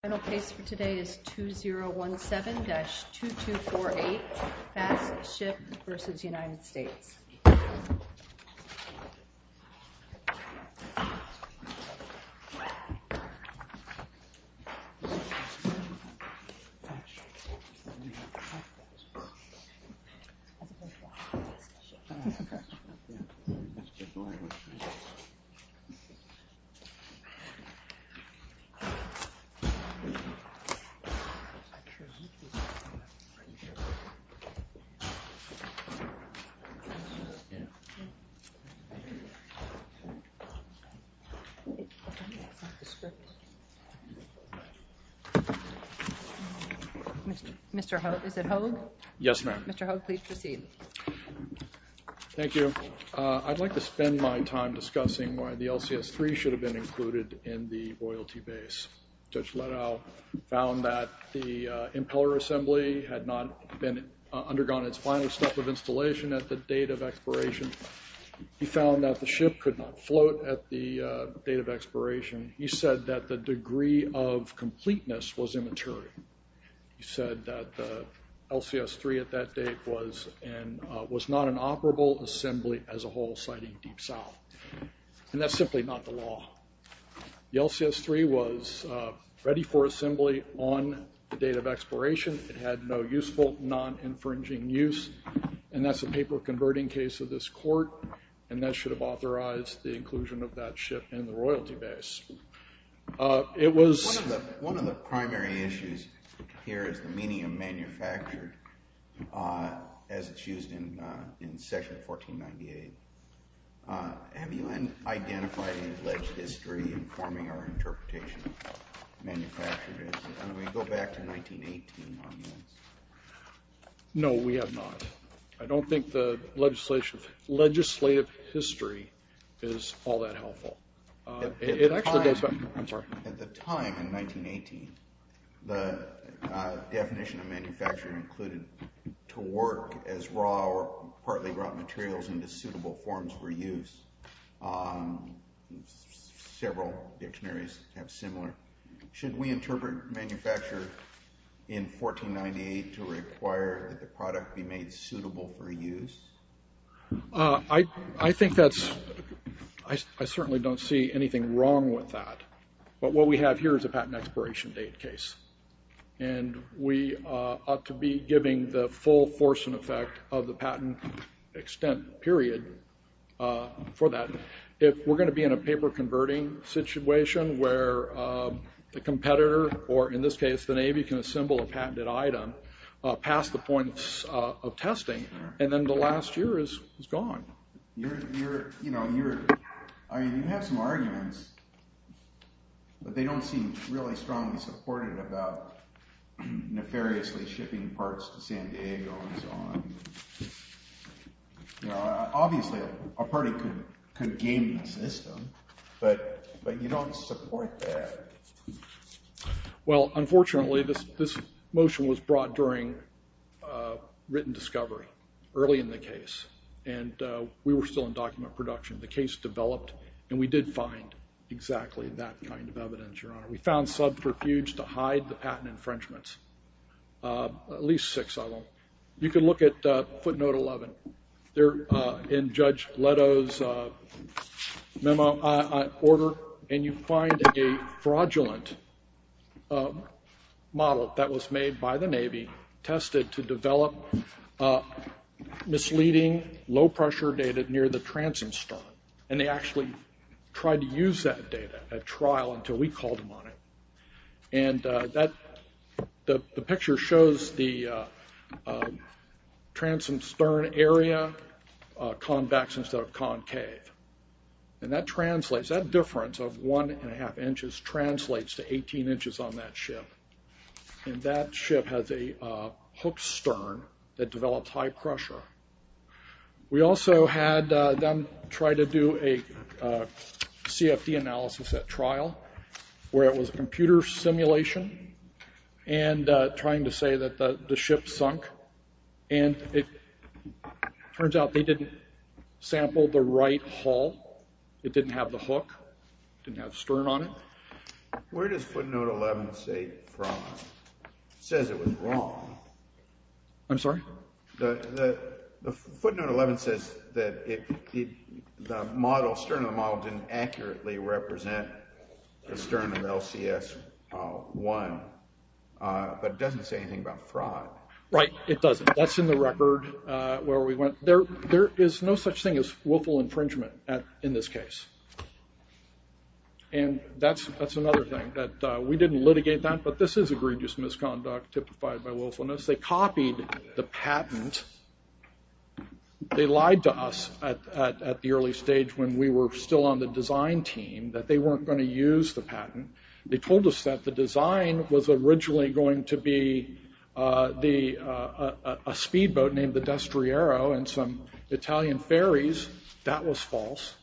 Final case for today is 2017-2248 FastShip v. United States Mr. Hogue, is it Hogue? Yes, ma'am. Mr. Hogue, please proceed. Thank you. I'd like to spend my time discussing why the LCS-3 should have been included in the loyalty base. Judge Liddell found that the impeller assembly had not undergone its final step of installation at the date of expiration. He found that the ship could not float at the date of expiration. He said that the degree of completeness was immaturity. He said that the LCS-3 at that date was not an operable assembly as a whole, citing Deep South. And that's simply not the law. The LCS-3 was ready for assembly on the date of expiration. It had no useful, non-infringing use, and that's a paper converting case of this court, and that should have authorized the inclusion of that ship in the royalty base. One of the primary issues here is the meaning of manufactured, as it's used in section 1498. Have you identified any alleged history informing our interpretation of manufactured? Can we go back to 1918 on this? No, we have not. I don't think the legislative history is all that helpful. At the time, in 1918, the definition of manufactured included to work as raw or partly raw materials into suitable forms for use. Several dictionaries have similar. Should we interpret manufactured in 1498 to require that the product be made suitable for use? I certainly don't see anything wrong with that, but what we have here is a patent expiration date case, and we ought to be giving the full force and effect of the patent extent period for that. If we're going to be in a paper converting situation where the competitor, or in this case the Navy, can assemble a patented item past the points of testing, and then the last year is gone. You have some arguments, but they don't seem really strongly supported about nefariously shipping parts to San Diego and so on. Obviously, a party could game the system, but you don't support that. Unfortunately, this motion was brought during written discovery, early in the case, and we were still in document production. The case developed, and we did find exactly that kind of evidence. We found subterfuge to hide the patent infringements, at least six of them. You can look at footnote 11 in Judge Leto's order, and you find a fraudulent model that was made by the Navy, tested to develop misleading low-pressure data near the transom stern, and they actually tried to use that data at trial until we called them on it. The picture shows the transom stern area convex instead of concave. That difference of one and a half inches translates to 18 inches on that ship, and that ship has a hooked stern that develops high pressure. We also had them try to do a CFD analysis at trial, where it was a computer simulation, and trying to say that the ship sunk. It turns out they didn't sample the right hull. It didn't have the hook. It didn't have the stern on it. Where does footnote 11 say fraud? It says it was wrong. I'm sorry? Footnote 11 says that the stern of the model didn't accurately represent the stern of LCS-1, but it doesn't say anything about fraud. Right, it doesn't. That's in the record where we went. There is no such thing as willful infringement in this case, and that's another thing. We didn't litigate that, but this is egregious misconduct typified by willfulness. They copied the patent. They lied to us at the early stage when we were still on the design team that they weren't going to use the patent. They told us that the design was originally going to be a speedboat named the Destriero and some Italian ferries. That was false.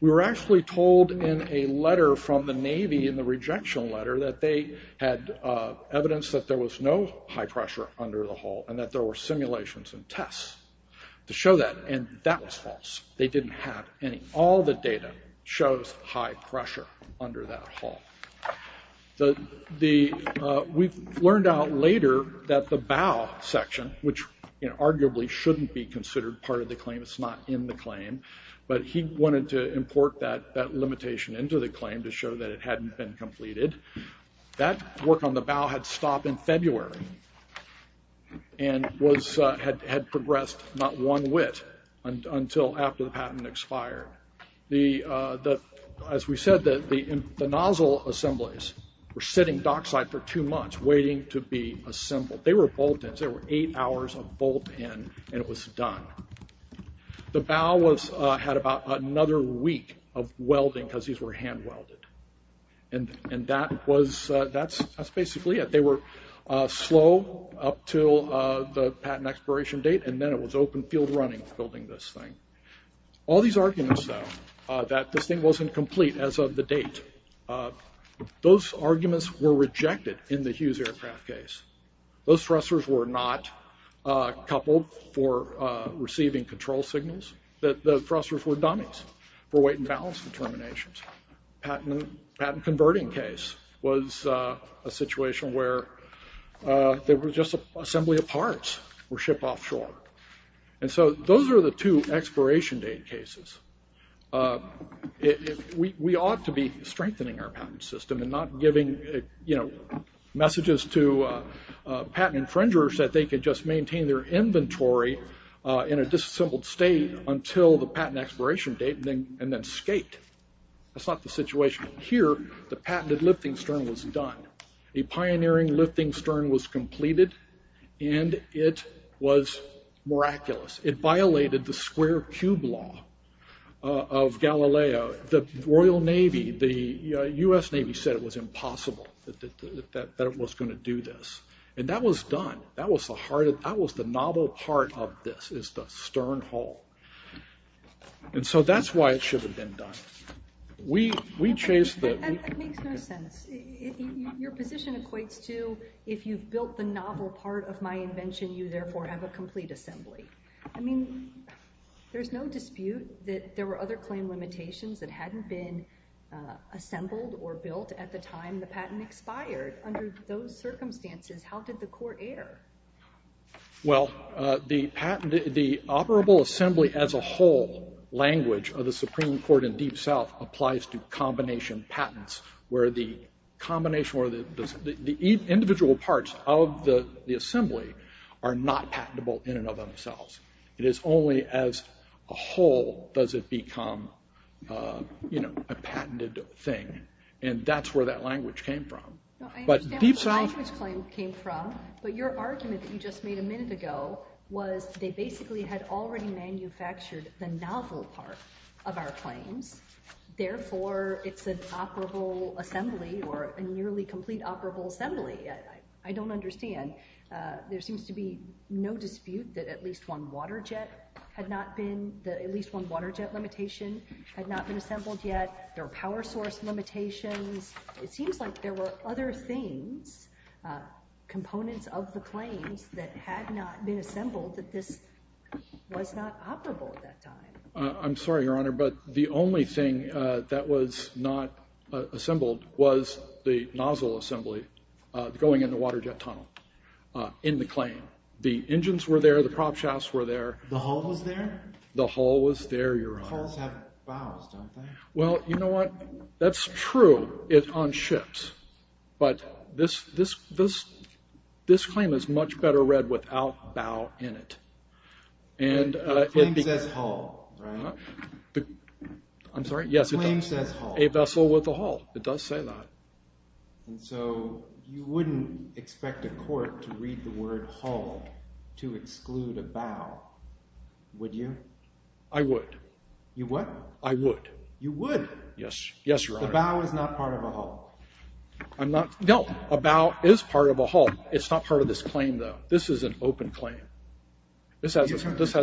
We were actually told in a letter from the Navy in the rejection letter that they had evidence that there was no high pressure under the hull and that there were simulations and tests to show that, and that was false. They didn't have any. All the data shows high pressure under that hull. We learned out later that the bow section, which arguably shouldn't be considered part of the claim, it's not in the claim, but he wanted to import that limitation into the claim to show that it hadn't been completed. That work on the bow had stopped in February and had progressed not one whit until after the patent expired. As we said, the nozzle assemblies were sitting dockside for two months waiting to be assembled. They were bolt-ins. There were eight hours of bolt-in, and it was done. The bow had about another week of welding because these were hand-welded, and that's basically it. They were slow up until the patent expiration date, and then it was open field running, building this thing. All these arguments, though, that this thing wasn't complete as of the date, those arguments were rejected in the Hughes aircraft case. Those thrusters were not coupled for receiving control signals. The thrusters were dummies for weight and balance determinations. The patent converting case was a situation where they were just assembly of parts were shipped offshore. Those are the two expiration date cases. We ought to be strengthening our patent system and not giving messages to patent infringers that they could just maintain their inventory in a disassembled state until the patent expiration date and then skate. That's not the situation here. The patented lifting stern was done. A pioneering lifting stern was completed, and it was miraculous. It violated the square cube law of Galileo. The Royal Navy, the U.S. Navy said it was impossible that it was going to do this, and that was done. That was the novel part of this, is the stern hull. That's why it should have been done. That makes no sense. Your position equates to, if you've built the novel part of my invention, you therefore have a complete assembly. There's no dispute that there were other claim limitations that hadn't been assembled or built at the time the patent expired. Under those circumstances, how did the court err? The operable assembly as a whole language of the Supreme Court in Deep South applies to combination patents, where the individual parts of the assembly are not patentable in and of themselves. It is only as a whole does it become a patented thing, and that's where that language came from. I understand where the language claim came from, but your argument that you just made a minute ago was they basically had already manufactured the novel part of our claims. Therefore, it's an operable assembly or a nearly complete operable assembly. I don't understand. There seems to be no dispute that at least one water jet limitation had not been assembled yet. There are power source limitations. It seems like there were other things, components of the claims, that had not been assembled that this was not operable at that time. I'm sorry, Your Honor, but the only thing that was not assembled was the nozzle assembly going in the water jet tunnel in the claim. The engines were there, the prop shafts were there. The hull was there? The hull was there, Your Honor. Hulls have bows, don't they? Well, you know what? That's true on ships, but this claim is much better read without bow in it. The claim says hull, right? The claim says hull. Yes, a vessel with a hull. It does say that. And so you wouldn't expect a court to read the word hull to exclude a bow, would you? I would. You would? I would. You would? Yes, Your Honor. A bow is not part of a hull. No, a bow is part of a hull. It's not part of this claim, though. This is an open claim. This has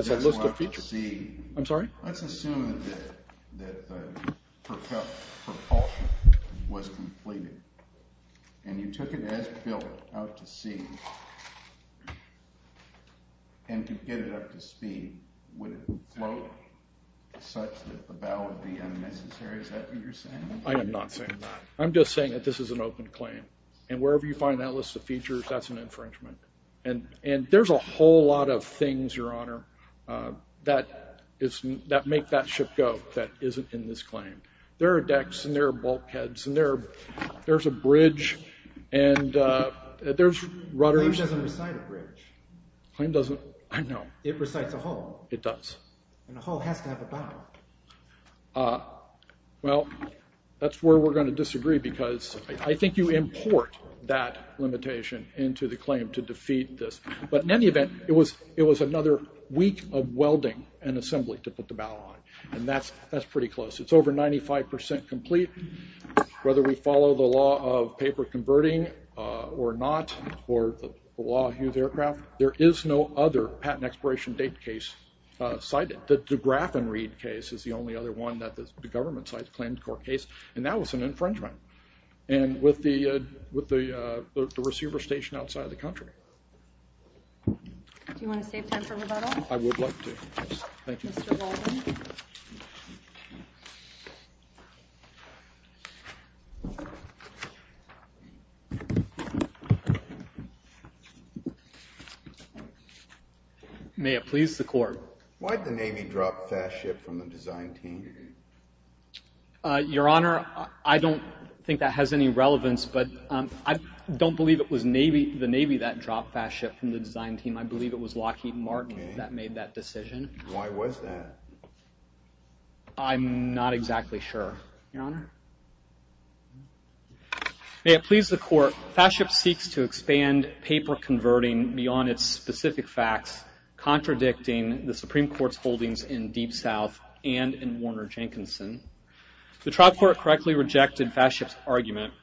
a list of features. I'm sorry? Let's assume that the propulsion was completed and you took it as built out to sea and you get it up to speed, would it float such that the bow would be unnecessary? Is that what you're saying? I am not saying that. I'm just saying that this is an open claim. And wherever you find that list of features, that's an infringement. And there's a whole lot of things, Your Honor, that make that ship go that isn't in this claim. There are decks and there are bulkheads and there's a bridge and there's rudders. The claim doesn't recite a bridge. I know. It recites a hull. It does. And a hull has to have a bow. Well, that's where we're going to disagree because I think you import that limitation into the claim to defeat this. But in any event, it was another week of welding and assembly to put the bow on. And that's pretty close. It's over 95% complete. Whether we follow the law of paper converting or not, or the law of Hughes Aircraft, there is no other patent expiration date case cited. But the Degraffenreid case is the only other one that the government cited, a claimed court case, and that was an infringement. And with the receiver stationed outside the country. Do you want to save time for rebuttal? I would like to. Thank you. Thank you, Mr. Walden. May it please the court. Why did the Navy drop fast ship from the design team? Your Honor, I don't think that has any relevance, but I don't believe it was the Navy that dropped fast ship from the design team. I believe it was Lockheed Martin that made that decision. Why was that? I'm not exactly sure, Your Honor. May it please the court. Fast ship seeks to expand paper converting beyond its specific facts, contradicting the Supreme Court's holdings in Deep South and in Warner Jenkinson. The trial court correctly rejected fast ship's argument,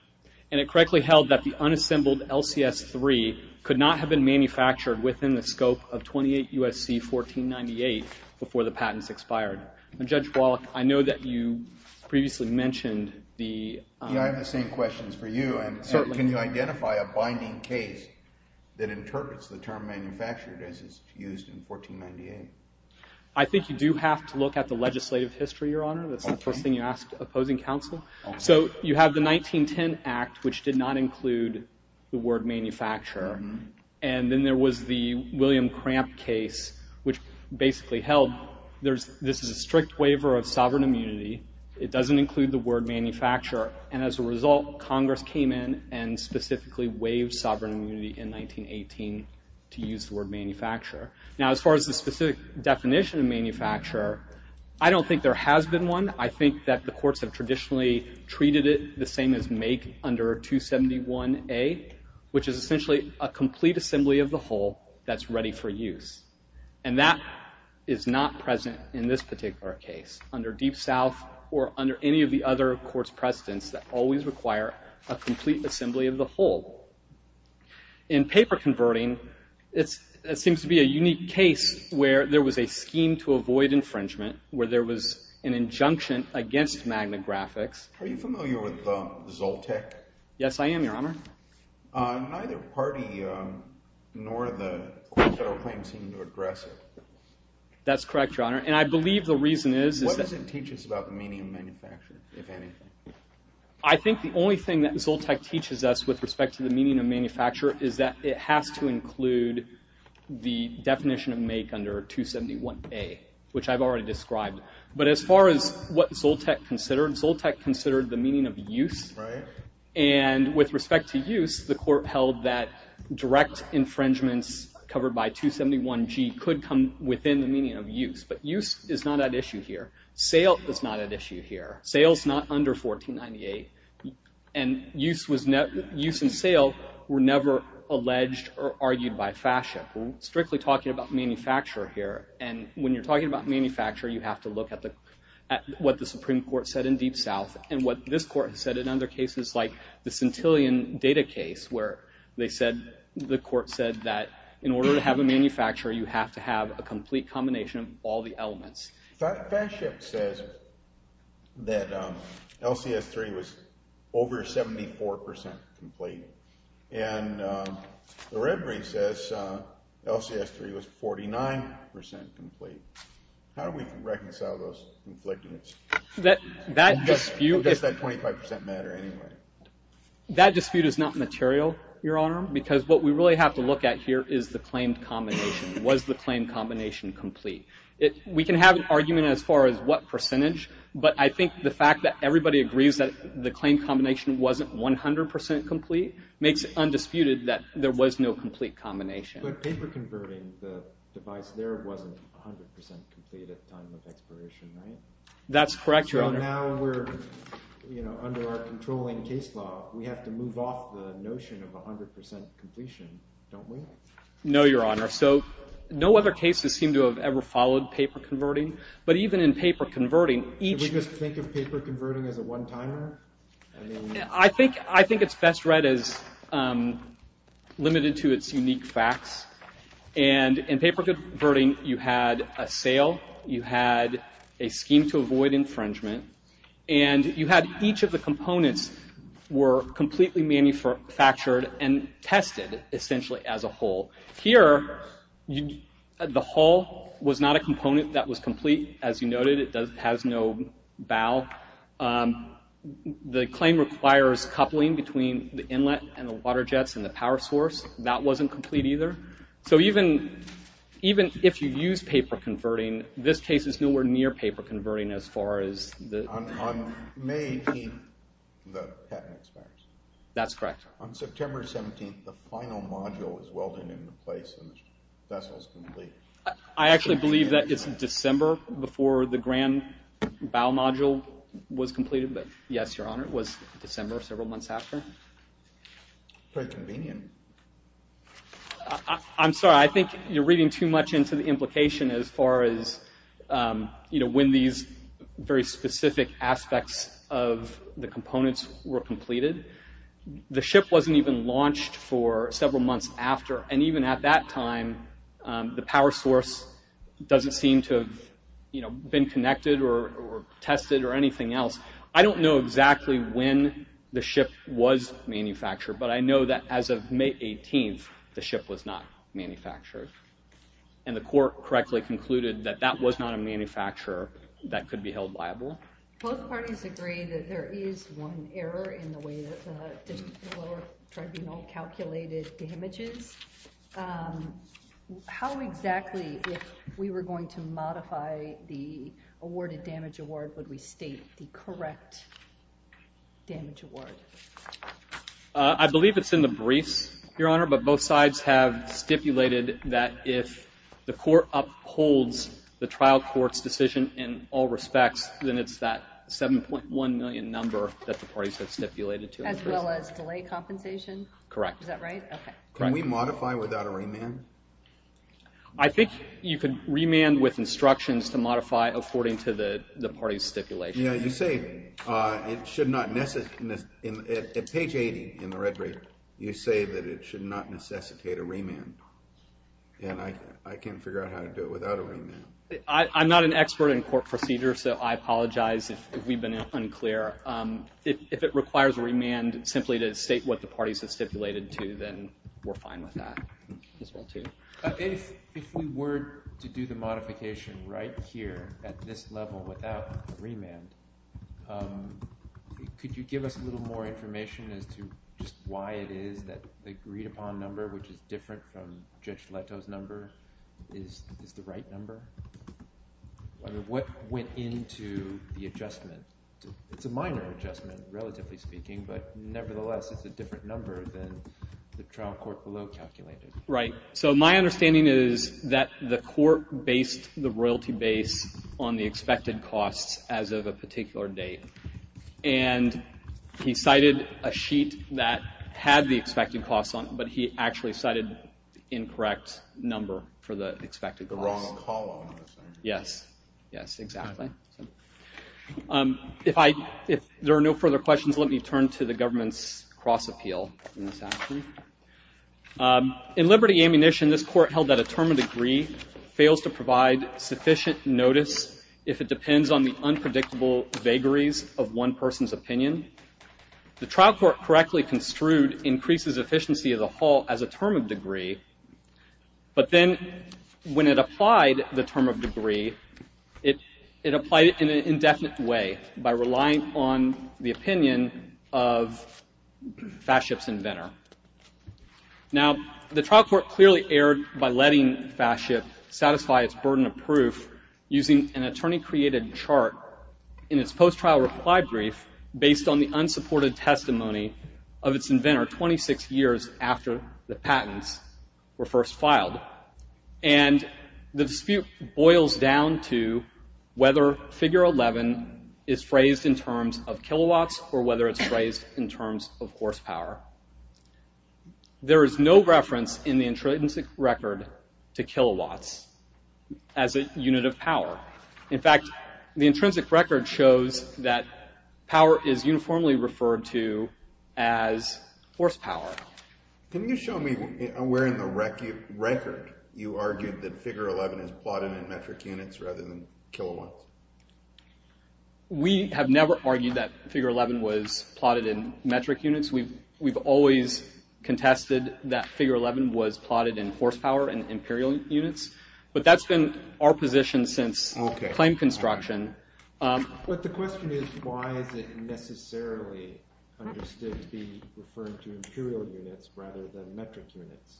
and it correctly held that the unassembled LCS3 could not have been manufactured within the scope of 28 USC 1498 before the patents expired. Judge Wallach, I know that you previously mentioned the... Yeah, I have the same questions for you. Certainly. Can you identify a binding case that interprets the term manufactured as it's used in 1498? I think you do have to look at the legislative history, Your Honor. Okay. That's the first thing you ask opposing counsel. Okay. So you have the 1910 Act, which did not include the word manufacture. And then there was the William Cramp case, which basically held this is a strict waiver of sovereign immunity. It doesn't include the word manufacture. And as a result, Congress came in and specifically waived sovereign immunity in 1918 to use the word manufacture. Now, as far as the specific definition of manufacture, I don't think there has been one. I think that the courts have traditionally treated it the same as make under 271A, which is essentially a complete assembly of the whole that's ready for use. And that is not present in this particular case under Deep South or under any of the other courts' precedents that always require a complete assembly of the whole. In paper converting, it seems to be a unique case where there was a scheme to avoid infringement, where there was an injunction against magnographics. Are you familiar with Zoltec? Yes, I am, Your Honor. Neither party nor the court federal claims seem to address it. That's correct, Your Honor. And I believe the reason is that— What does it teach us about the meaning of manufacture, if anything? I think the only thing that Zoltec teaches us with respect to the meaning of manufacture is that it has to include the definition of make under 271A, which I've already described. But as far as what Zoltec considered, Zoltec considered the meaning of use. And with respect to use, the court held that direct infringements covered by 271G could come within the meaning of use. But use is not at issue here. Sale is not at issue here. Sale's not under 1498. And use and sale were never alleged or argued by fascia. We're strictly talking about manufacture here. And when you're talking about manufacture, you have to look at what the Supreme Court said in Deep South and what this court has said in other cases like the Centillion data case where the court said that in order to have a manufacturer, Fascia says that LCS3 was over 74% complete. And the Red Brief says LCS3 was 49% complete. How do we reconcile those conflicting— Does that 25% matter anyway? That dispute is not material, Your Honor, because what we really have to look at here is the claimed combination. Was the claimed combination complete? We can have an argument as far as what percentage, but I think the fact that everybody agrees that the claimed combination wasn't 100% complete makes it undisputed that there was no complete combination. But paper converting the device there wasn't 100% complete at the time of expiration, right? That's correct, Your Honor. So now we're, you know, under our controlling case law, we have to move off the notion of 100% completion, don't we? No, Your Honor. So no other cases seem to have ever followed paper converting. But even in paper converting, each— Did we just think of paper converting as a one-timer? I think it's best read as limited to its unique facts. And in paper converting, you had a sale, you had a scheme to avoid infringement, and you had each of the components were completely manufactured and tested, essentially, as a whole. Here, the hull was not a component that was complete, as you noted. It has no bow. The claim requires coupling between the inlet and the water jets and the power source. That wasn't complete either. So even if you use paper converting, this case is nowhere near paper converting as far as the— On May 18, the patent expires. That's correct. On September 17, the final module is welded into place and the vessel is complete. I actually believe that it's December before the grand bow module was completed, but yes, Your Honor, it was December several months after. Very convenient. I'm sorry. I think you're reading too much into the implication as far as, you know, when these very specific aspects of the components were completed. The ship wasn't even launched for several months after, and even at that time, the power source doesn't seem to have, you know, been connected or tested or anything else. I don't know exactly when the ship was manufactured, but I know that as of May 18, the ship was not manufactured, and the court correctly concluded that that was not a manufacturer that could be held liable. Both parties agree that there is one error in the way that the lower tribunal calculated damages. How exactly, if we were going to modify the awarded damage award, would we state the correct damage award? I believe it's in the briefs, Your Honor, but both sides have stipulated that if the court upholds the trial court's decision in all respects, then it's that 7.1 million number that the parties have stipulated to. As well as delay compensation? Correct. Is that right? Okay. Can we modify without a remand? I think you can remand with instructions to modify according to the parties' stipulation. Yeah, you say it should not necessitate, at page 80 in the red brief, you say that it should not necessitate a remand, and I can't figure out how to do it without a remand. I'm not an expert in court procedure, so I apologize if we've been unclear. If it requires a remand simply to state what the parties have stipulated to, then we're fine with that as well, too. If we were to do the modification right here at this level without a remand, could you give us a little more information as to just why it is that the agreed-upon number, which is different from Judge Leto's number, is the right number? What went into the adjustment? It's a minor adjustment, relatively speaking, but nevertheless it's a different number than the trial court below calculated. Right. So my understanding is that the court based the royalty base on the expected costs as of a particular date, and he cited a sheet that had the expected costs on it, but he actually cited the incorrect number for the expected costs. The wrong column, essentially. Yes, yes, exactly. If there are no further questions, let me turn to the government's cross-appeal in this action. In Liberty Ammunition, this court held that a term of degree fails to provide sufficient notice if it depends on the unpredictable vagaries of one person's opinion. The trial court correctly construed increases efficiency of the whole as a term of degree, but then when it applied the term of degree, it applied it in an indefinite way by relying on the opinion of Fatship's inventor. Now, the trial court clearly erred by letting Fatship satisfy its burden of proof using an attorney-created chart in its post-trial reply brief based on the unsupported testimony of its inventor 26 years after the patents were first filed. And the dispute boils down to whether Figure 11 is phrased in terms of kilowatts or whether it's phrased in terms of horsepower. There is no reference in the intrinsic record to kilowatts as a unit of power. In fact, the intrinsic record shows that power is uniformly referred to as horsepower. Can you show me where in the record you argued that Figure 11 is plotted in metric units rather than kilowatts? We have never argued that Figure 11 was plotted in metric units. We've always contested that Figure 11 was plotted in horsepower and imperial units, but that's been our position since claim construction. But the question is, why is it necessarily understood to be referring to imperial units rather than metric units?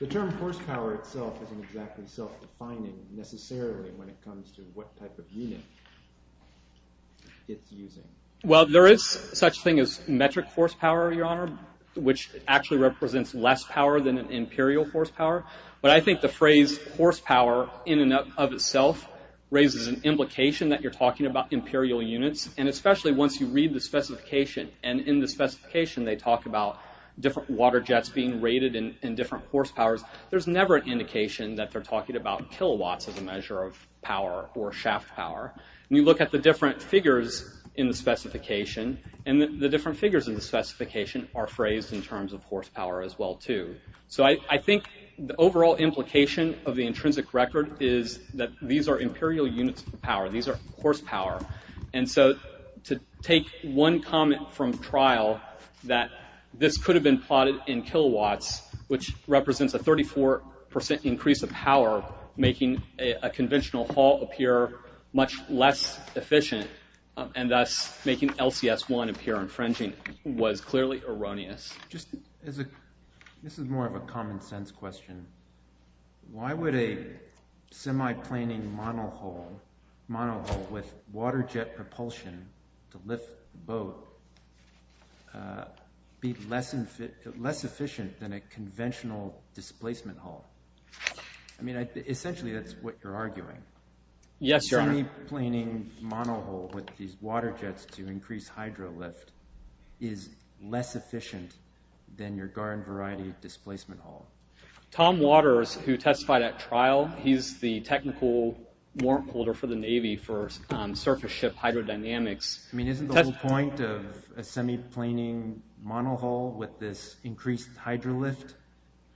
The term horsepower itself isn't exactly self-defining necessarily when it comes to what type of unit it's using. Well, there is such a thing as metric horsepower, Your Honor, which actually represents less power than an imperial horsepower. But I think the phrase horsepower in and of itself raises an implication that you're talking about imperial units, and especially once you read the specification. And in the specification, they talk about different water jets being rated in different horsepowers. There's never an indication that they're talking about kilowatts as a measure of power or shaft power. And you look at the different figures in the specification, and the different figures in the specification are phrased in terms of horsepower as well, too. So I think the overall implication of the intrinsic record is that these are imperial units of power. These are horsepower. And so to take one comment from trial that this could have been plotted in kilowatts, which represents a 34% increase of power, making a conventional hull appear much less efficient, and thus making LCS-1 appear infringing, was clearly erroneous. This is more of a common sense question. Why would a semi-planing monohull with water jet propulsion to lift the boat be less efficient than a conventional displacement hull? I mean, essentially, that's what you're arguing. Yes, Your Honor. A semi-planing monohull with these water jets to increase hydro lift is less efficient than your Garin variety displacement hull. Tom Waters, who testified at trial, he's the technical warrant holder for the Navy for surface ship hydrodynamics. I mean, isn't the whole point of a semi-planing monohull with this increased hydro lift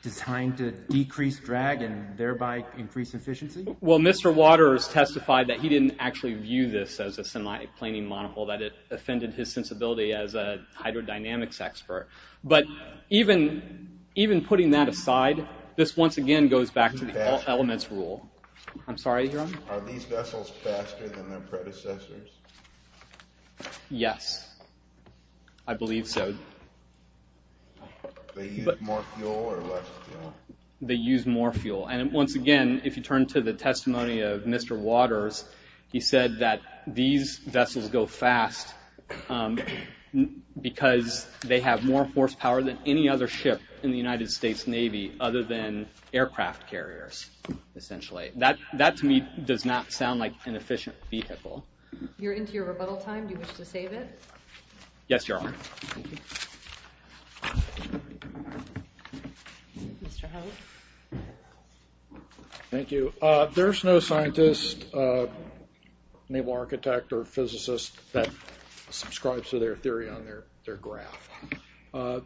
designed to decrease drag and thereby increase efficiency? Well, Mr. Waters testified that he didn't actually view this as a semi-planing monohull, that it offended his sensibility as a hydrodynamics expert. But even putting that aside, this once again goes back to the all elements rule. I'm sorry, Your Honor. Are these vessels faster than their predecessors? Yes, I believe so. They use more fuel or less fuel? They use more fuel. And once again, if you turn to the testimony of Mr. Waters, he said that these vessels go fast because they have more horsepower than any other ship in the United States Navy other than aircraft carriers, essentially. That, to me, does not sound like an efficient vehicle. You're into your rebuttal time. Do you wish to save it? Yes, Your Honor. Thank you. Mr. Howell. Thank you. There's no scientist, naval architect, or physicist that subscribes to their theory on their graph.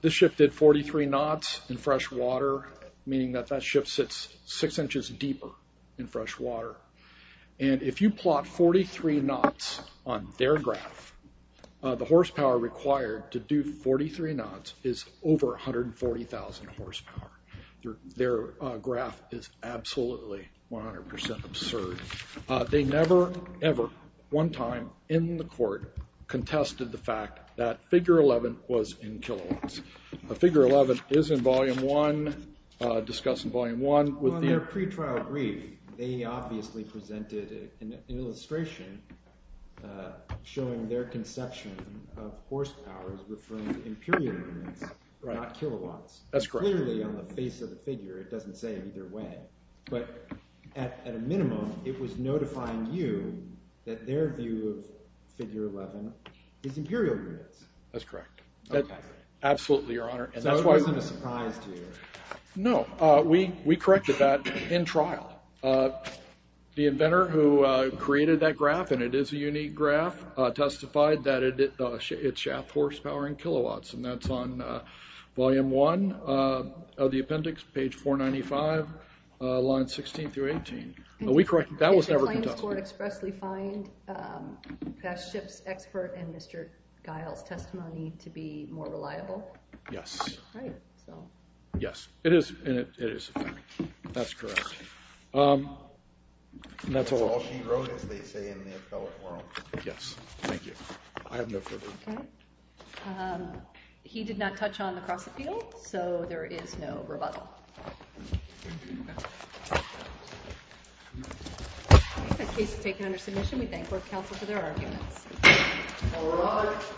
This ship did 43 knots in fresh water, meaning that that ship sits six inches deeper in fresh water. And if you plot 43 knots on their graph, the horsepower required to do 43 knots is over 140,000 horsepower. Their graph is absolutely 100% absurd. They never, ever, one time in the court contested the fact that figure 11 was in kilowatts. Figure 11 is in Volume 1, discussed in Volume 1. Well, in their pretrial brief, they obviously presented an illustration showing their conception of horsepower as referring to imperial units, not kilowatts. That's correct. Clearly, on the face of the figure, it doesn't say either way. But at a minimum, it was notifying you that their view of figure 11 is imperial units. That's correct. Okay. Absolutely, Your Honor. So it wasn't a surprise to you. No. We corrected that in trial. The inventor who created that graph, and it is a unique graph, testified that it's shaft horsepower in kilowatts. And that's on Volume 1 of the appendix, page 495, lines 16 through 18. Are we correct? That was never contested. Did the claims court expressly find that ship's expert and Mr. Guile's testimony to be more reliable? Yes. Right. Yes. It is. That's correct. That's all she wrote, as they say in the appellate world. Yes. Thank you. I have no further. Okay. He did not touch on the cross-appeal, so there is no rebuttal. The case is taken under submission. We thank court counsel for their arguments. All rise.